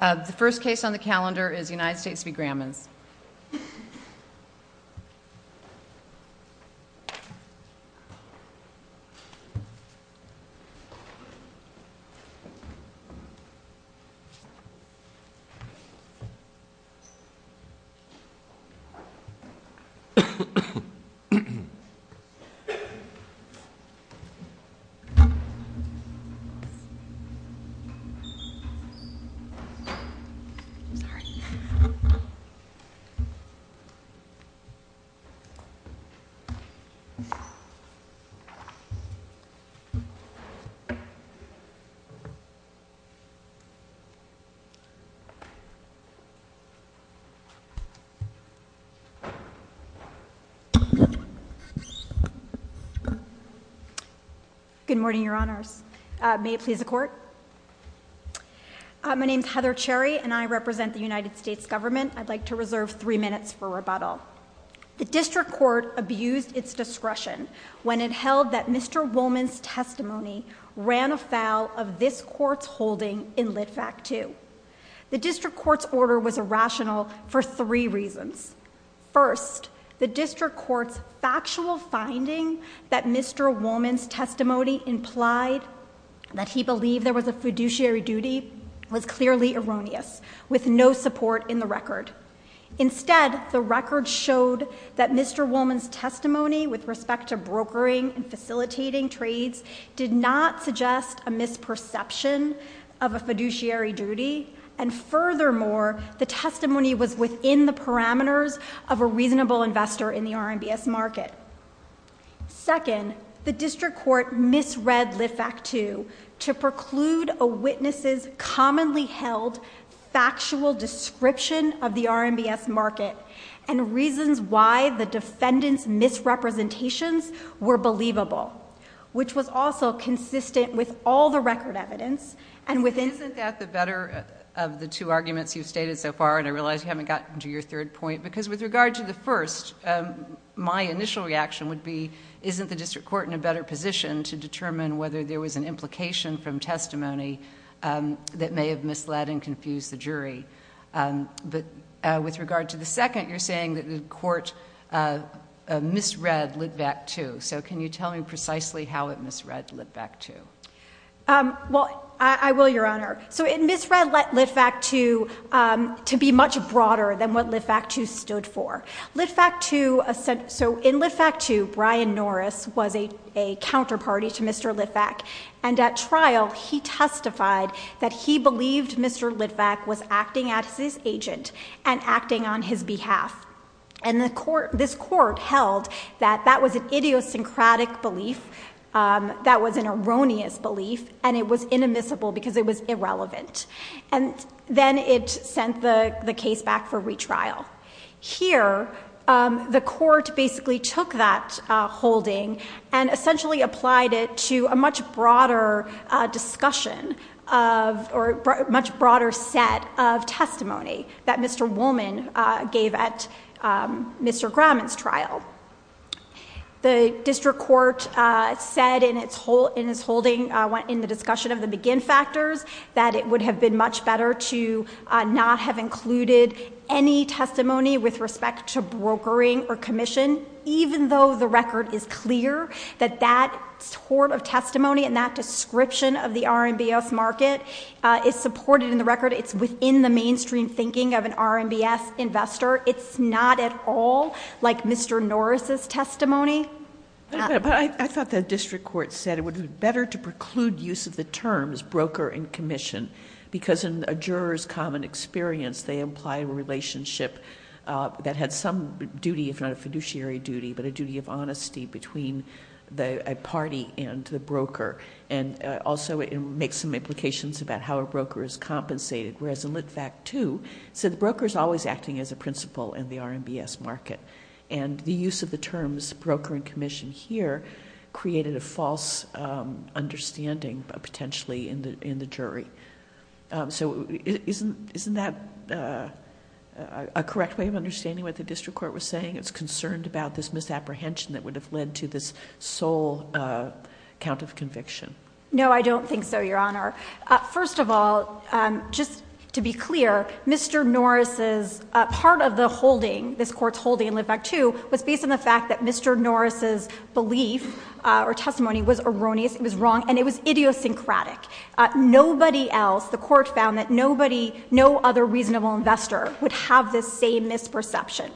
The first case on the calendar is United States v. Grammons. I'm sorry. Good morning, your honors. My name is Heather Cherry, and I represent the United States government. I'd like to reserve three minutes for rebuttal. The district court abused its discretion when it held that Mr. Woolman's testimony ran afoul of this court's holding in Lit V.A.C. 2. The district court's order was irrational for three reasons. First, the district court's factual finding that Mr. Woolman's testimony implied that he believed there was a fiduciary duty was clearly erroneous, with no support in the record. Instead, the record showed that Mr. Woolman's testimony with respect to brokering and facilitating trades did not suggest a misperception of a fiduciary duty. And furthermore, the testimony was within the parameters of a reasonable investor in the RMBS market. Second, the district court misread Lit V.A.C. 2 to preclude a witness's commonly held factual description of the RMBS market. And reasons why the defendant's misrepresentations were believable, which was also consistent with all the record evidence. Isn't that the better of the two arguments you've stated so far? And I realize you haven't gotten to your third point, because with regard to the first, my initial reaction would be, isn't the district court in a better position to determine whether there was an implication from testimony that may have misled and confused the jury? But with regard to the second, you're saying that the court misread Lit V.A.C. 2. So can you tell me precisely how it misread Lit V.A.C. 2? Well, I will, Your Honor. So it misread Lit V.A.C. 2 to be much broader than what Lit V.A.C. 2 stood for. Lit V.A.C. 2, so in Lit V.A.C. 2, Brian Norris was a counterparty to Mr. Lit V.A.C. And at trial, he testified that he believed Mr. Lit V.A.C. was acting as his agent and acting on his behalf. And this court held that that was an idiosyncratic belief, that was an erroneous belief, and it was inadmissible because it was irrelevant. And then it sent the case back for retrial. Here, the court basically took that holding and essentially applied it to a much broader discussion or a much broader set of testimony that Mr. Woolman gave at Mr. Graman's trial. The district court said in its holding, in the discussion of the begin factors, that it would have been much better to not have included any testimony with respect to brokering or commission, even though the record is clear that that sort of testimony and that description of the RMBS market is supported in the record. It's within the mainstream thinking of an RMBS investor. It's not at all like Mr. Norris' testimony. But I thought the district court said it would be better to preclude use of the terms broker and commission, because in a juror's common experience, they imply a relationship that had some duty, if not a fiduciary duty, but a duty of honesty between a party and the broker. And also, it makes some implications about how a broker is compensated. Whereas in Lit Vact II, it said the broker is always acting as a principal in the RMBS market. And the use of the terms broker and commission here created a false understanding, potentially, in the jury. So isn't that a correct way of understanding what the district court was saying? It's concerned about this misapprehension that would have led to this sole count of conviction. No, I don't think so, Your Honor. First of all, just to be clear, Mr. Norris' part of the holding, this court's holding in Lit Vact II, was based on the fact that Mr. Norris' belief or testimony was erroneous, it was wrong, and it was idiosyncratic. Nobody else, the court found that nobody, no other reasonable investor, would have this same misperception.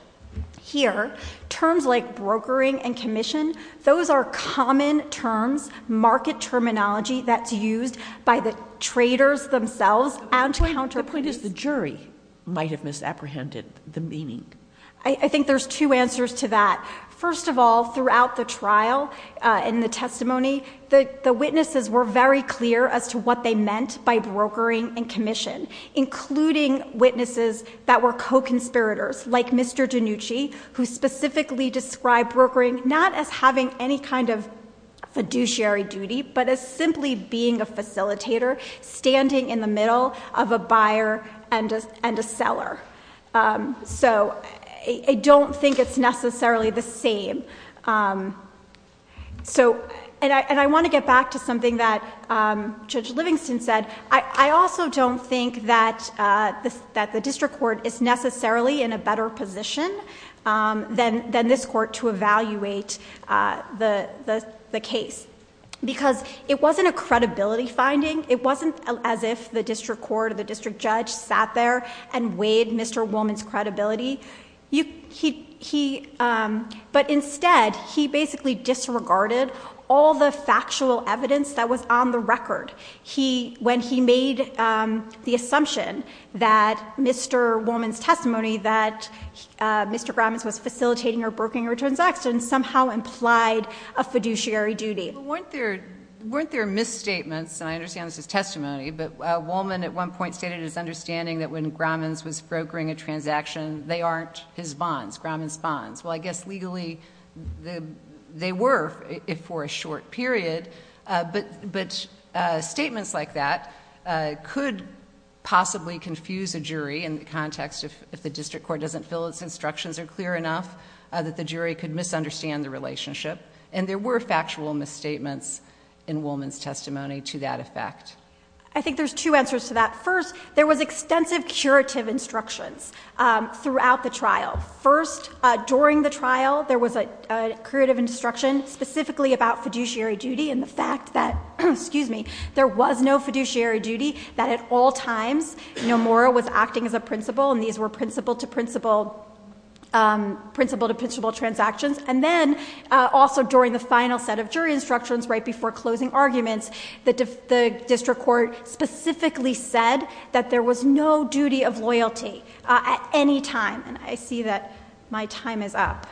Here, terms like brokering and commission, those are common terms, market terminology that's used by the traders themselves and counterparts. The point is the jury might have misapprehended the meaning. I think there's two answers to that. First of all, throughout the trial and the testimony, the witnesses were very clear as to what they meant by brokering and commission, including witnesses that were co-conspirators, like Mr. DiNucci, who specifically described brokering not as having any kind of fiduciary duty, but as simply being a facilitator standing in the middle of a buyer and a seller. So, I don't think it's necessarily the same. And I want to get back to something that Judge Livingston said. I also don't think that the district court is necessarily in a better position than this court to evaluate the case, because it wasn't a credibility finding. It wasn't as if the district court or the district judge sat there and weighed Mr. Willman's credibility. But instead, he basically disregarded all the factual evidence that was on the record. When he made the assumption that Mr. Willman's testimony, that Mr. Gromans was facilitating or brokering a transaction, somehow implied a fiduciary duty. Well, weren't there misstatements, and I understand this is testimony, but Willman at one point stated his understanding that when Gromans was brokering a transaction, they aren't his bonds, Gromans' bonds. Well, I guess legally, they were for a short period. But statements like that could possibly confuse a jury in the context if the district court doesn't feel its instructions are clear enough, that the jury could misunderstand the relationship. And there were factual misstatements in Willman's testimony to that effect. I think there's two answers to that. First, there was extensive curative instructions throughout the trial. First, during the trial, there was a curative instruction, specifically about fiduciary duty and the fact that, excuse me, there was no fiduciary duty, that at all times Nomura was acting as a principal and these were principal-to-principal transactions. And then, also during the final set of jury instructions right before closing arguments, the district court specifically said that there was no duty of loyalty at any time. And I see that my time is up.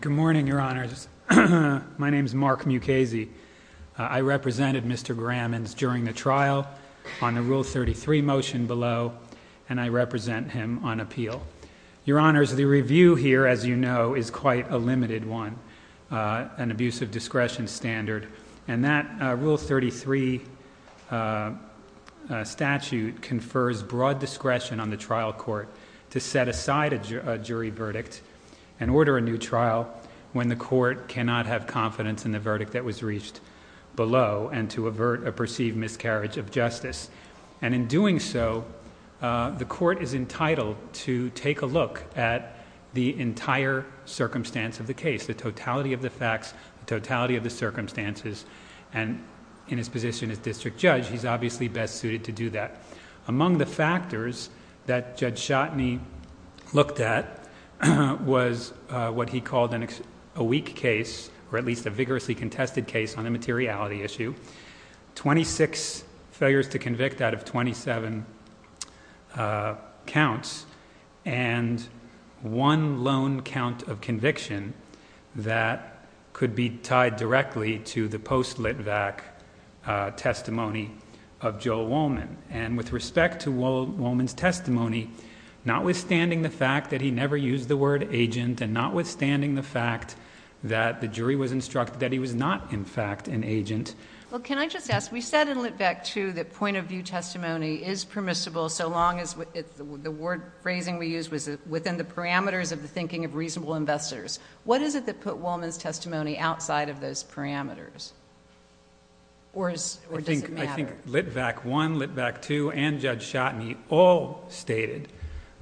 Good morning, Your Honors. My name is Mark Mukasey. I represented Mr. Gromans during the trial on the Rule 33 motion below, and I represent him on appeal. Your Honors, the review here, as you know, is quite a limited one, an abuse of discretion standard. And that Rule 33 statute confers broad discretion on the trial court to set aside a jury verdict and order a new trial when the court cannot have confidence in the verdict that was reached below and to avert a perceived miscarriage of justice. And in doing so, the court is entitled to take a look at the entire circumstance of the case, the totality of the facts, the totality of the circumstances, and in his position as district judge, he's obviously best suited to do that. Among the factors that Judge Schotteny looked at was what he called a weak case, or at least a vigorously contested case on the materiality issue. Twenty-six failures to convict out of 27 counts, and one lone count of conviction that could be tied directly to the post-lit vac testimony of Joel Wollman. And with respect to Wollman's testimony, notwithstanding the fact that he never used the word agent and notwithstanding the fact that the jury was instructed that he was not, in fact, an agent. Well, can I just ask, we said in Lit Vac 2 that point of view testimony is permissible so long as the word phrasing we used was within the parameters of the thinking of reasonable investors. What is it that put Wollman's testimony outside of those parameters, or does it matter? Well, I think Lit Vac 1, Lit Vac 2, and Judge Schotteny all stated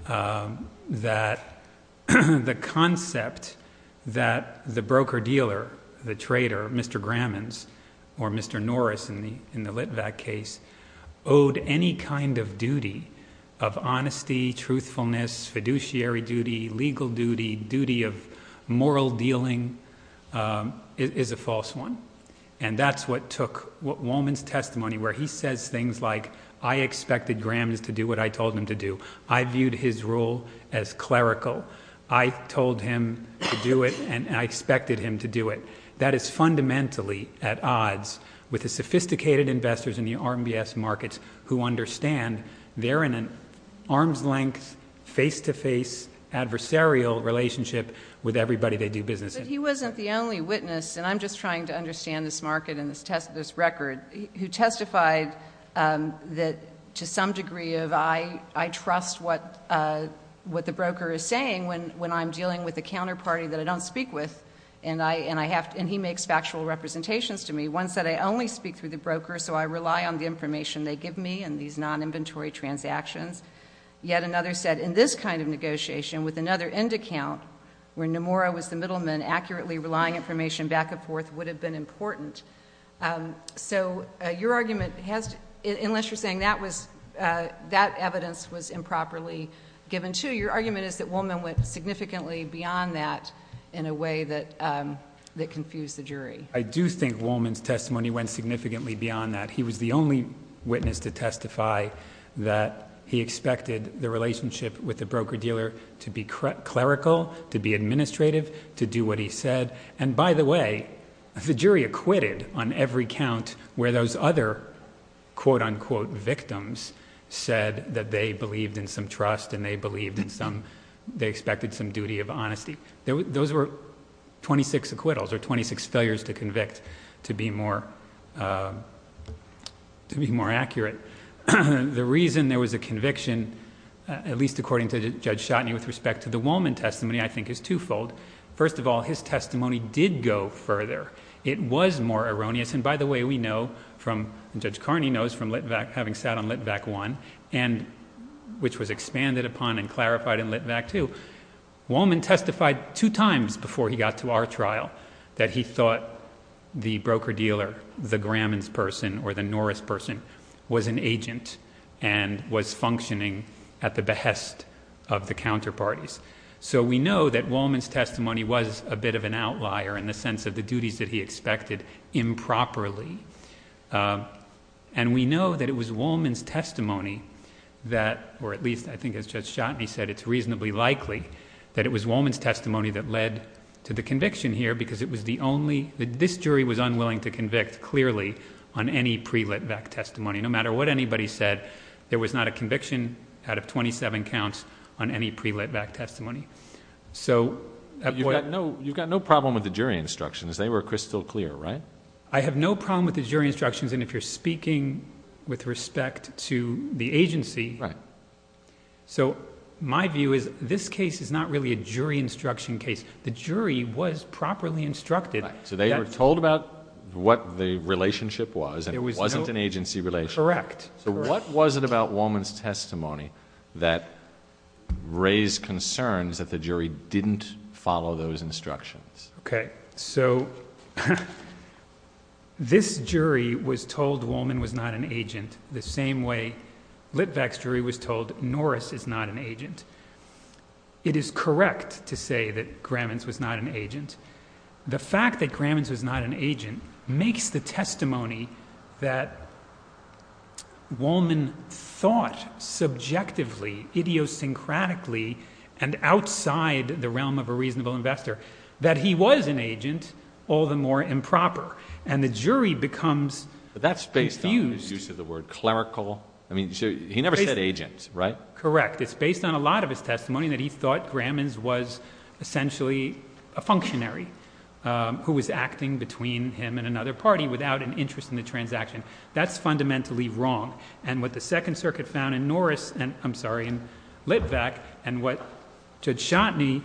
that the concept that the broker-dealer, the trader, Mr. Grammans, or Mr. Norris in the Lit Vac case, owed any kind of duty of honesty, truthfulness, fiduciary duty, legal duty, duty of moral dealing, is a false one. And that's what took Wollman's testimony, where he says things like, I expected Grammans to do what I told him to do. I viewed his role as clerical. I told him to do it, and I expected him to do it. That is fundamentally at odds with the sophisticated investors in the RMBS markets who understand they're in an arm's-length, face-to-face, adversarial relationship with everybody they do business with. But he wasn't the only witness, and I'm just trying to understand this market and this record, who testified that to some degree of, I trust what the broker is saying when I'm dealing with a counterparty that I don't speak with, and he makes factual representations to me. One said, I only speak through the broker, so I rely on the information they give me and these non-inventory transactions. Yet another said, in this kind of negotiation with another end account, where Nomura was the middleman, accurately relying information back and forth would have been important. So your argument has to, unless you're saying that was, that evidence was improperly given to, your argument is that Wollman went significantly beyond that in a way that confused the jury. I do think Wollman's testimony went significantly beyond that. He was the only witness to testify that he expected the relationship with the broker-dealer to be clerical, to be administrative, to do what he said. And by the way, the jury acquitted on every count where those other quote-unquote victims said that they believed in some trust and they believed in some, they expected some duty of honesty. Those were 26 acquittals, or 26 failures to convict, to be more accurate. The reason there was a conviction, at least according to Judge Schotteny, with respect to the Wollman testimony, I think is twofold. First of all, his testimony did go further. It was more erroneous, and by the way, we know from, Judge Carney knows from Litvak, having sat on Litvak 1, which was expanded upon and clarified in Litvak 2, Wollman testified two times before he got to our trial that he thought the broker-dealer, the Gramman's person or the Norris person, was an agent and was functioning at the behest of the counterparties. So we know that Wollman's testimony was a bit of an outlier in the sense of the duties that he expected improperly. And we know that it was Wollman's testimony that, or at least I think as Judge Schotteny said, it's reasonably likely that it was Wollman's testimony that led to the conviction here because it was the only, this jury was unwilling to convict clearly on any pre-Litvak testimony. No matter what anybody said, there was not a conviction out of 27 counts on any pre-Litvak testimony. So... You've got no problem with the jury instructions. They were crystal clear, right? I have no problem with the jury instructions. And if you're speaking with respect to the agency... Right. So my view is this case is not really a jury instruction case. The jury was properly instructed. Right. So they were told about what the relationship was and it wasn't an agency relationship. Correct. So what was it about Wollman's testimony that raised concerns that the jury didn't follow those instructions? Okay. So this jury was told Wollman was not an agent the same way Litvak's jury was told Norris is not an agent. It is correct to say that Gramins was not an agent. The fact that Gramins was not an agent makes the testimony that Wollman thought subjectively, idiosyncratically, and outside the realm of a reasonable investor, that he was an agent all the more improper. And the jury becomes infused... But that's based on the use of the word clerical. I mean, he never said agent, right? Correct. It's based on a lot of his testimony that he thought Gramins was essentially a functionary who was acting between him and another party without an interest in the transaction. That's fundamentally wrong. And what the Second Circuit found in Norris... I'm sorry, in Litvak... And what Judge Shotney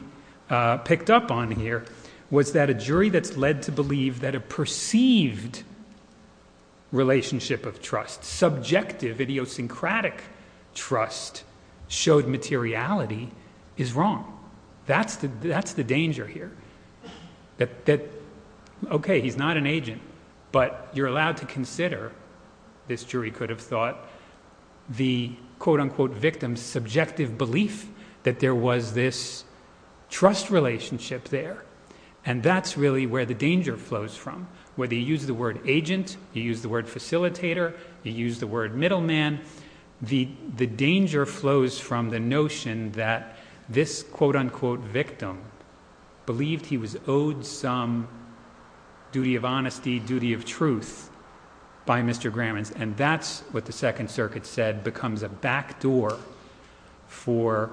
picked up on here was that a jury that's led to believe that a perceived relationship of trust, subjective, idiosyncratic trust, showed materiality is wrong. That's the danger here. Okay, he's not an agent, but you're allowed to consider, this jury could have thought, the quote-unquote victim's subjective belief that there was this trust relationship there. And that's really where the danger flows from. Whether you use the word agent, you use the word facilitator, you use the word middleman, the danger flows from the notion that this quote-unquote victim believed he was owed some duty of honesty, duty of truth by Mr. Gramins. And that's what the Second Circuit said becomes a backdoor for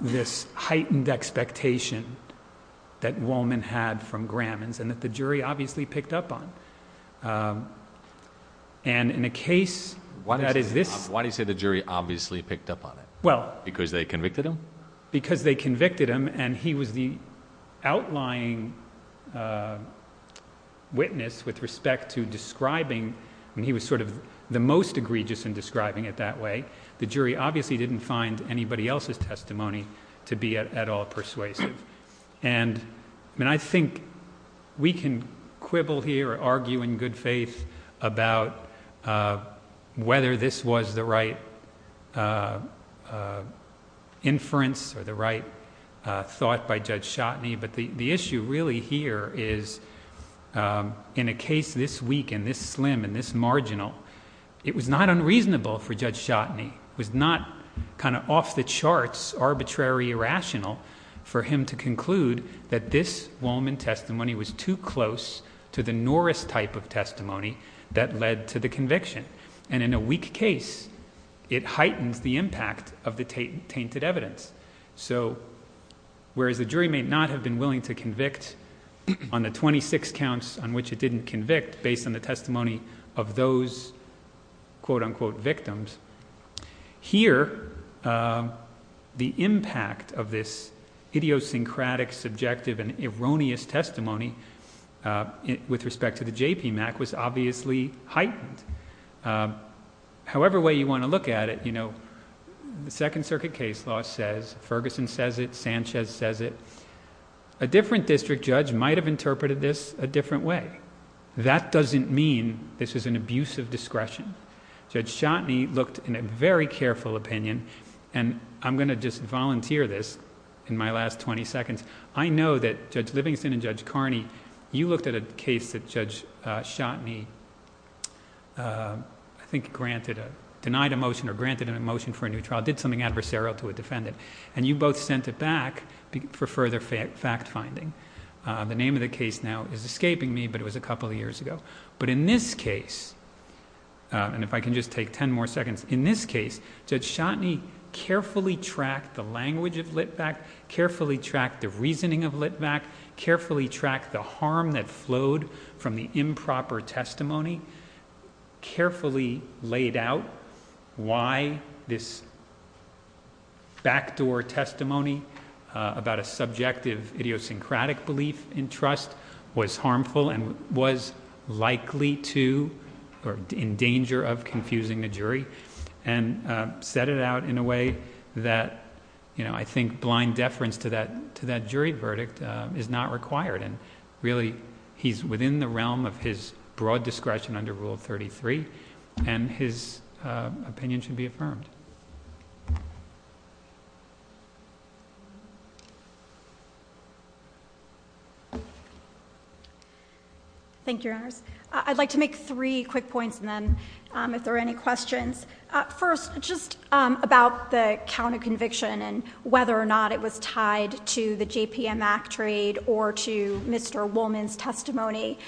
this heightened expectation that Wallman had from Gramins and that the jury obviously picked up on. And in a case... Why do you say the jury obviously picked up on it? Well... Because they convicted him? Because they convicted him, and he was the outlying witness with respect to describing... I mean, he was sort of the most egregious in describing it that way. The jury obviously didn't find anybody else's testimony to be at all persuasive. And I think we can quibble here or argue in good faith about whether this was the right inference or the right thought by Judge Schotteny. But the issue really here is, in a case this weak and this slim and this marginal, it was not unreasonable for Judge Schotteny. It was not kind of off the charts, arbitrary, irrational for him to conclude that this Wallman testimony was too close to the Norris type of testimony that led to the conviction. And in a weak case, it heightens the impact of the tainted evidence. So, whereas the jury may not have been willing to convict on the 26 counts on which it didn't convict based on the testimony of those quote-unquote victims, here, the impact of this idiosyncratic, subjective, and erroneous testimony with respect to the JPMAC was obviously heightened. However way you want to look at it, you know, the Second Circuit case law says, Ferguson says it, Sanchez says it. A different district judge might have interpreted this a different way. That doesn't mean this is an abuse of discretion. Judge Schotteny looked in a very careful opinion, and I'm going to just volunteer this in my last 20 seconds. I know that Judge Livingston and Judge Carney, you looked at a case that Judge Schotteny, I think, denied a motion or granted a motion for a new trial, did something adversarial to a defendant, and you both sent it back for further fact-finding. The name of the case now is escaping me, but it was a couple of years ago. But in this case, and if I can just take 10 more seconds, in this case, Judge Schotteny carefully tracked the language of Litvack, carefully tracked the reasoning of Litvack, carefully tracked the harm that flowed from the improper testimony, carefully laid out why this backdoor testimony about a subjective idiosyncratic belief in trust was harmful and was likely to or in danger of confusing the jury, and set it out in a way that, you know, I think blind deference to that jury verdict is not required. And really, he's within the realm of his broad discretion under Rule 33, and his opinion should be affirmed. Thank you, Your Honors. I'd like to make three quick points, and then if there are any questions. First, just about the count of conviction and whether or not it was tied to the JPM Act trade or to Mr. Woolman's testimony.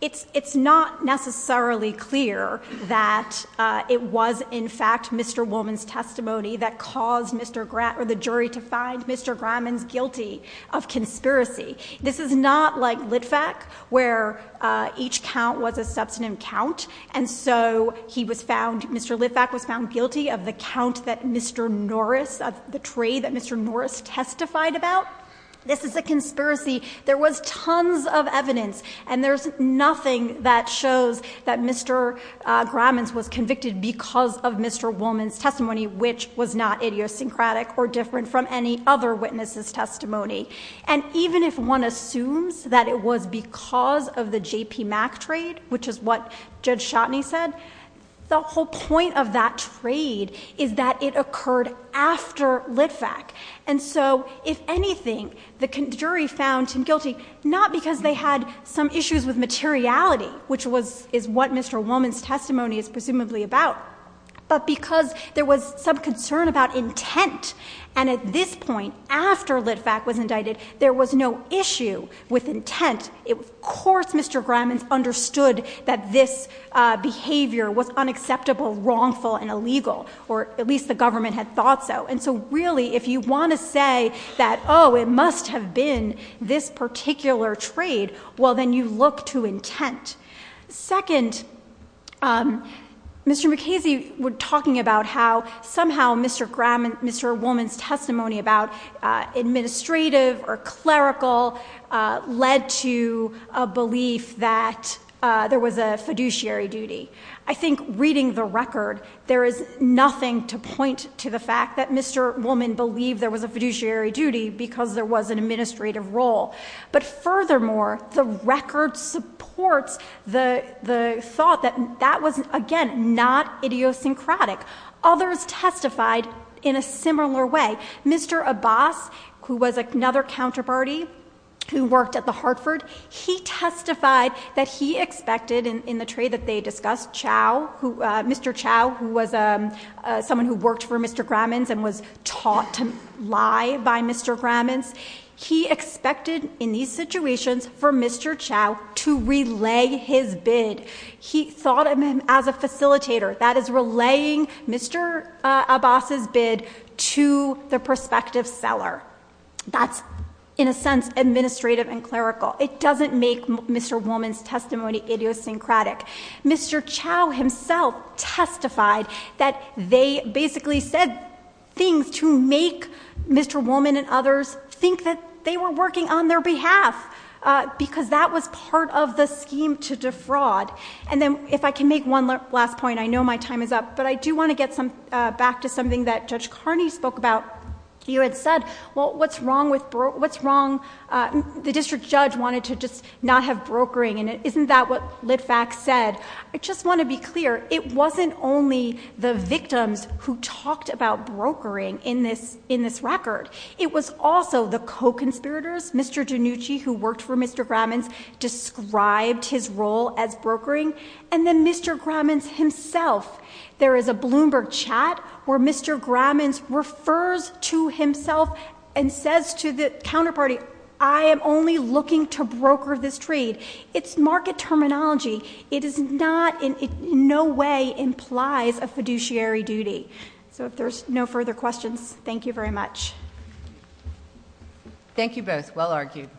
It's not necessarily clear that it was, in fact, Mr. Woolman's testimony that caused Mr. Graham or the jury to find Mr. Graham guilty of conspiracy. This is not like Litvack, where each count was a substantive count. And so he was found, Mr. Litvack was found guilty of the count that Mr. Norris, the trade that Mr. Norris testified about. This is a conspiracy. There was tons of evidence, and there's nothing that shows that Mr. Graham was convicted because of Mr. Woolman's testimony, which was not idiosyncratic or different from any other witness's testimony. And even if one assumes that it was because of the JPM Act trade, which is what Judge Shotney said, the whole point of that trade is that it occurred after Litvack. And so if anything, the jury found him guilty not because they had some issues with materiality, which is what Mr. Woolman's testimony is presumably about, but because there was some concern about intent. And at this point, after Litvack was indicted, there was no issue with intent. Of course, Mr. Graham understood that this behavior was unacceptable, wrongful, and illegal, or at least the government had thought so. And so really, if you want to say that, oh, it must have been this particular trade, well, then you look to intent. Second, Mr. McKenzie was talking about how somehow Mr. Graham and Mr. Woolman's testimony about administrative or clerical led to a belief that there was a fiduciary duty. I think reading the record, there is nothing to point to the fact that Mr. Woolman believed there was a fiduciary duty because there was an administrative role. But furthermore, the record supports the thought that that was, again, not idiosyncratic. Others testified in a similar way. Mr. Abbas, who was another counterparty who worked at the Hartford, he testified that he expected, in the trade that they discussed, Mr. Chow, who was someone who worked for Mr. Gramman's and was taught to lie by Mr. Gramman's. He expected, in these situations, for Mr. Chow to relay his bid. He thought of him as a facilitator, that is, relaying Mr. Abbas's bid to the prospective seller. That's, in a sense, administrative and clerical. It doesn't make Mr. Woolman's testimony idiosyncratic. Mr. Chow himself testified that they basically said things to make Mr. Gramman's bid. I think that they were working on their behalf because that was part of the scheme to defraud. Then, if I can make one last point. I know my time is up, but I do want to get back to something that Judge Carney spoke about. You had said, well, what's wrong with... what's wrong... the district judge wanted to just not have brokering. Isn't that what Litvak said? I just want to be clear. It wasn't only the victims who talked about brokering in this record. It was also the co-conspirators. Mr. DiNucci, who worked for Mr. Gramman's, described his role as brokering. And then Mr. Gramman's himself. There is a Bloomberg chat where Mr. Gramman's refers to himself and says to the counterparty, I am only looking to broker this trade. It's market terminology. It is not... it in no way implies a fiduciary duty. So if there's no further questions, thank you very much. Thank you both. Well argued.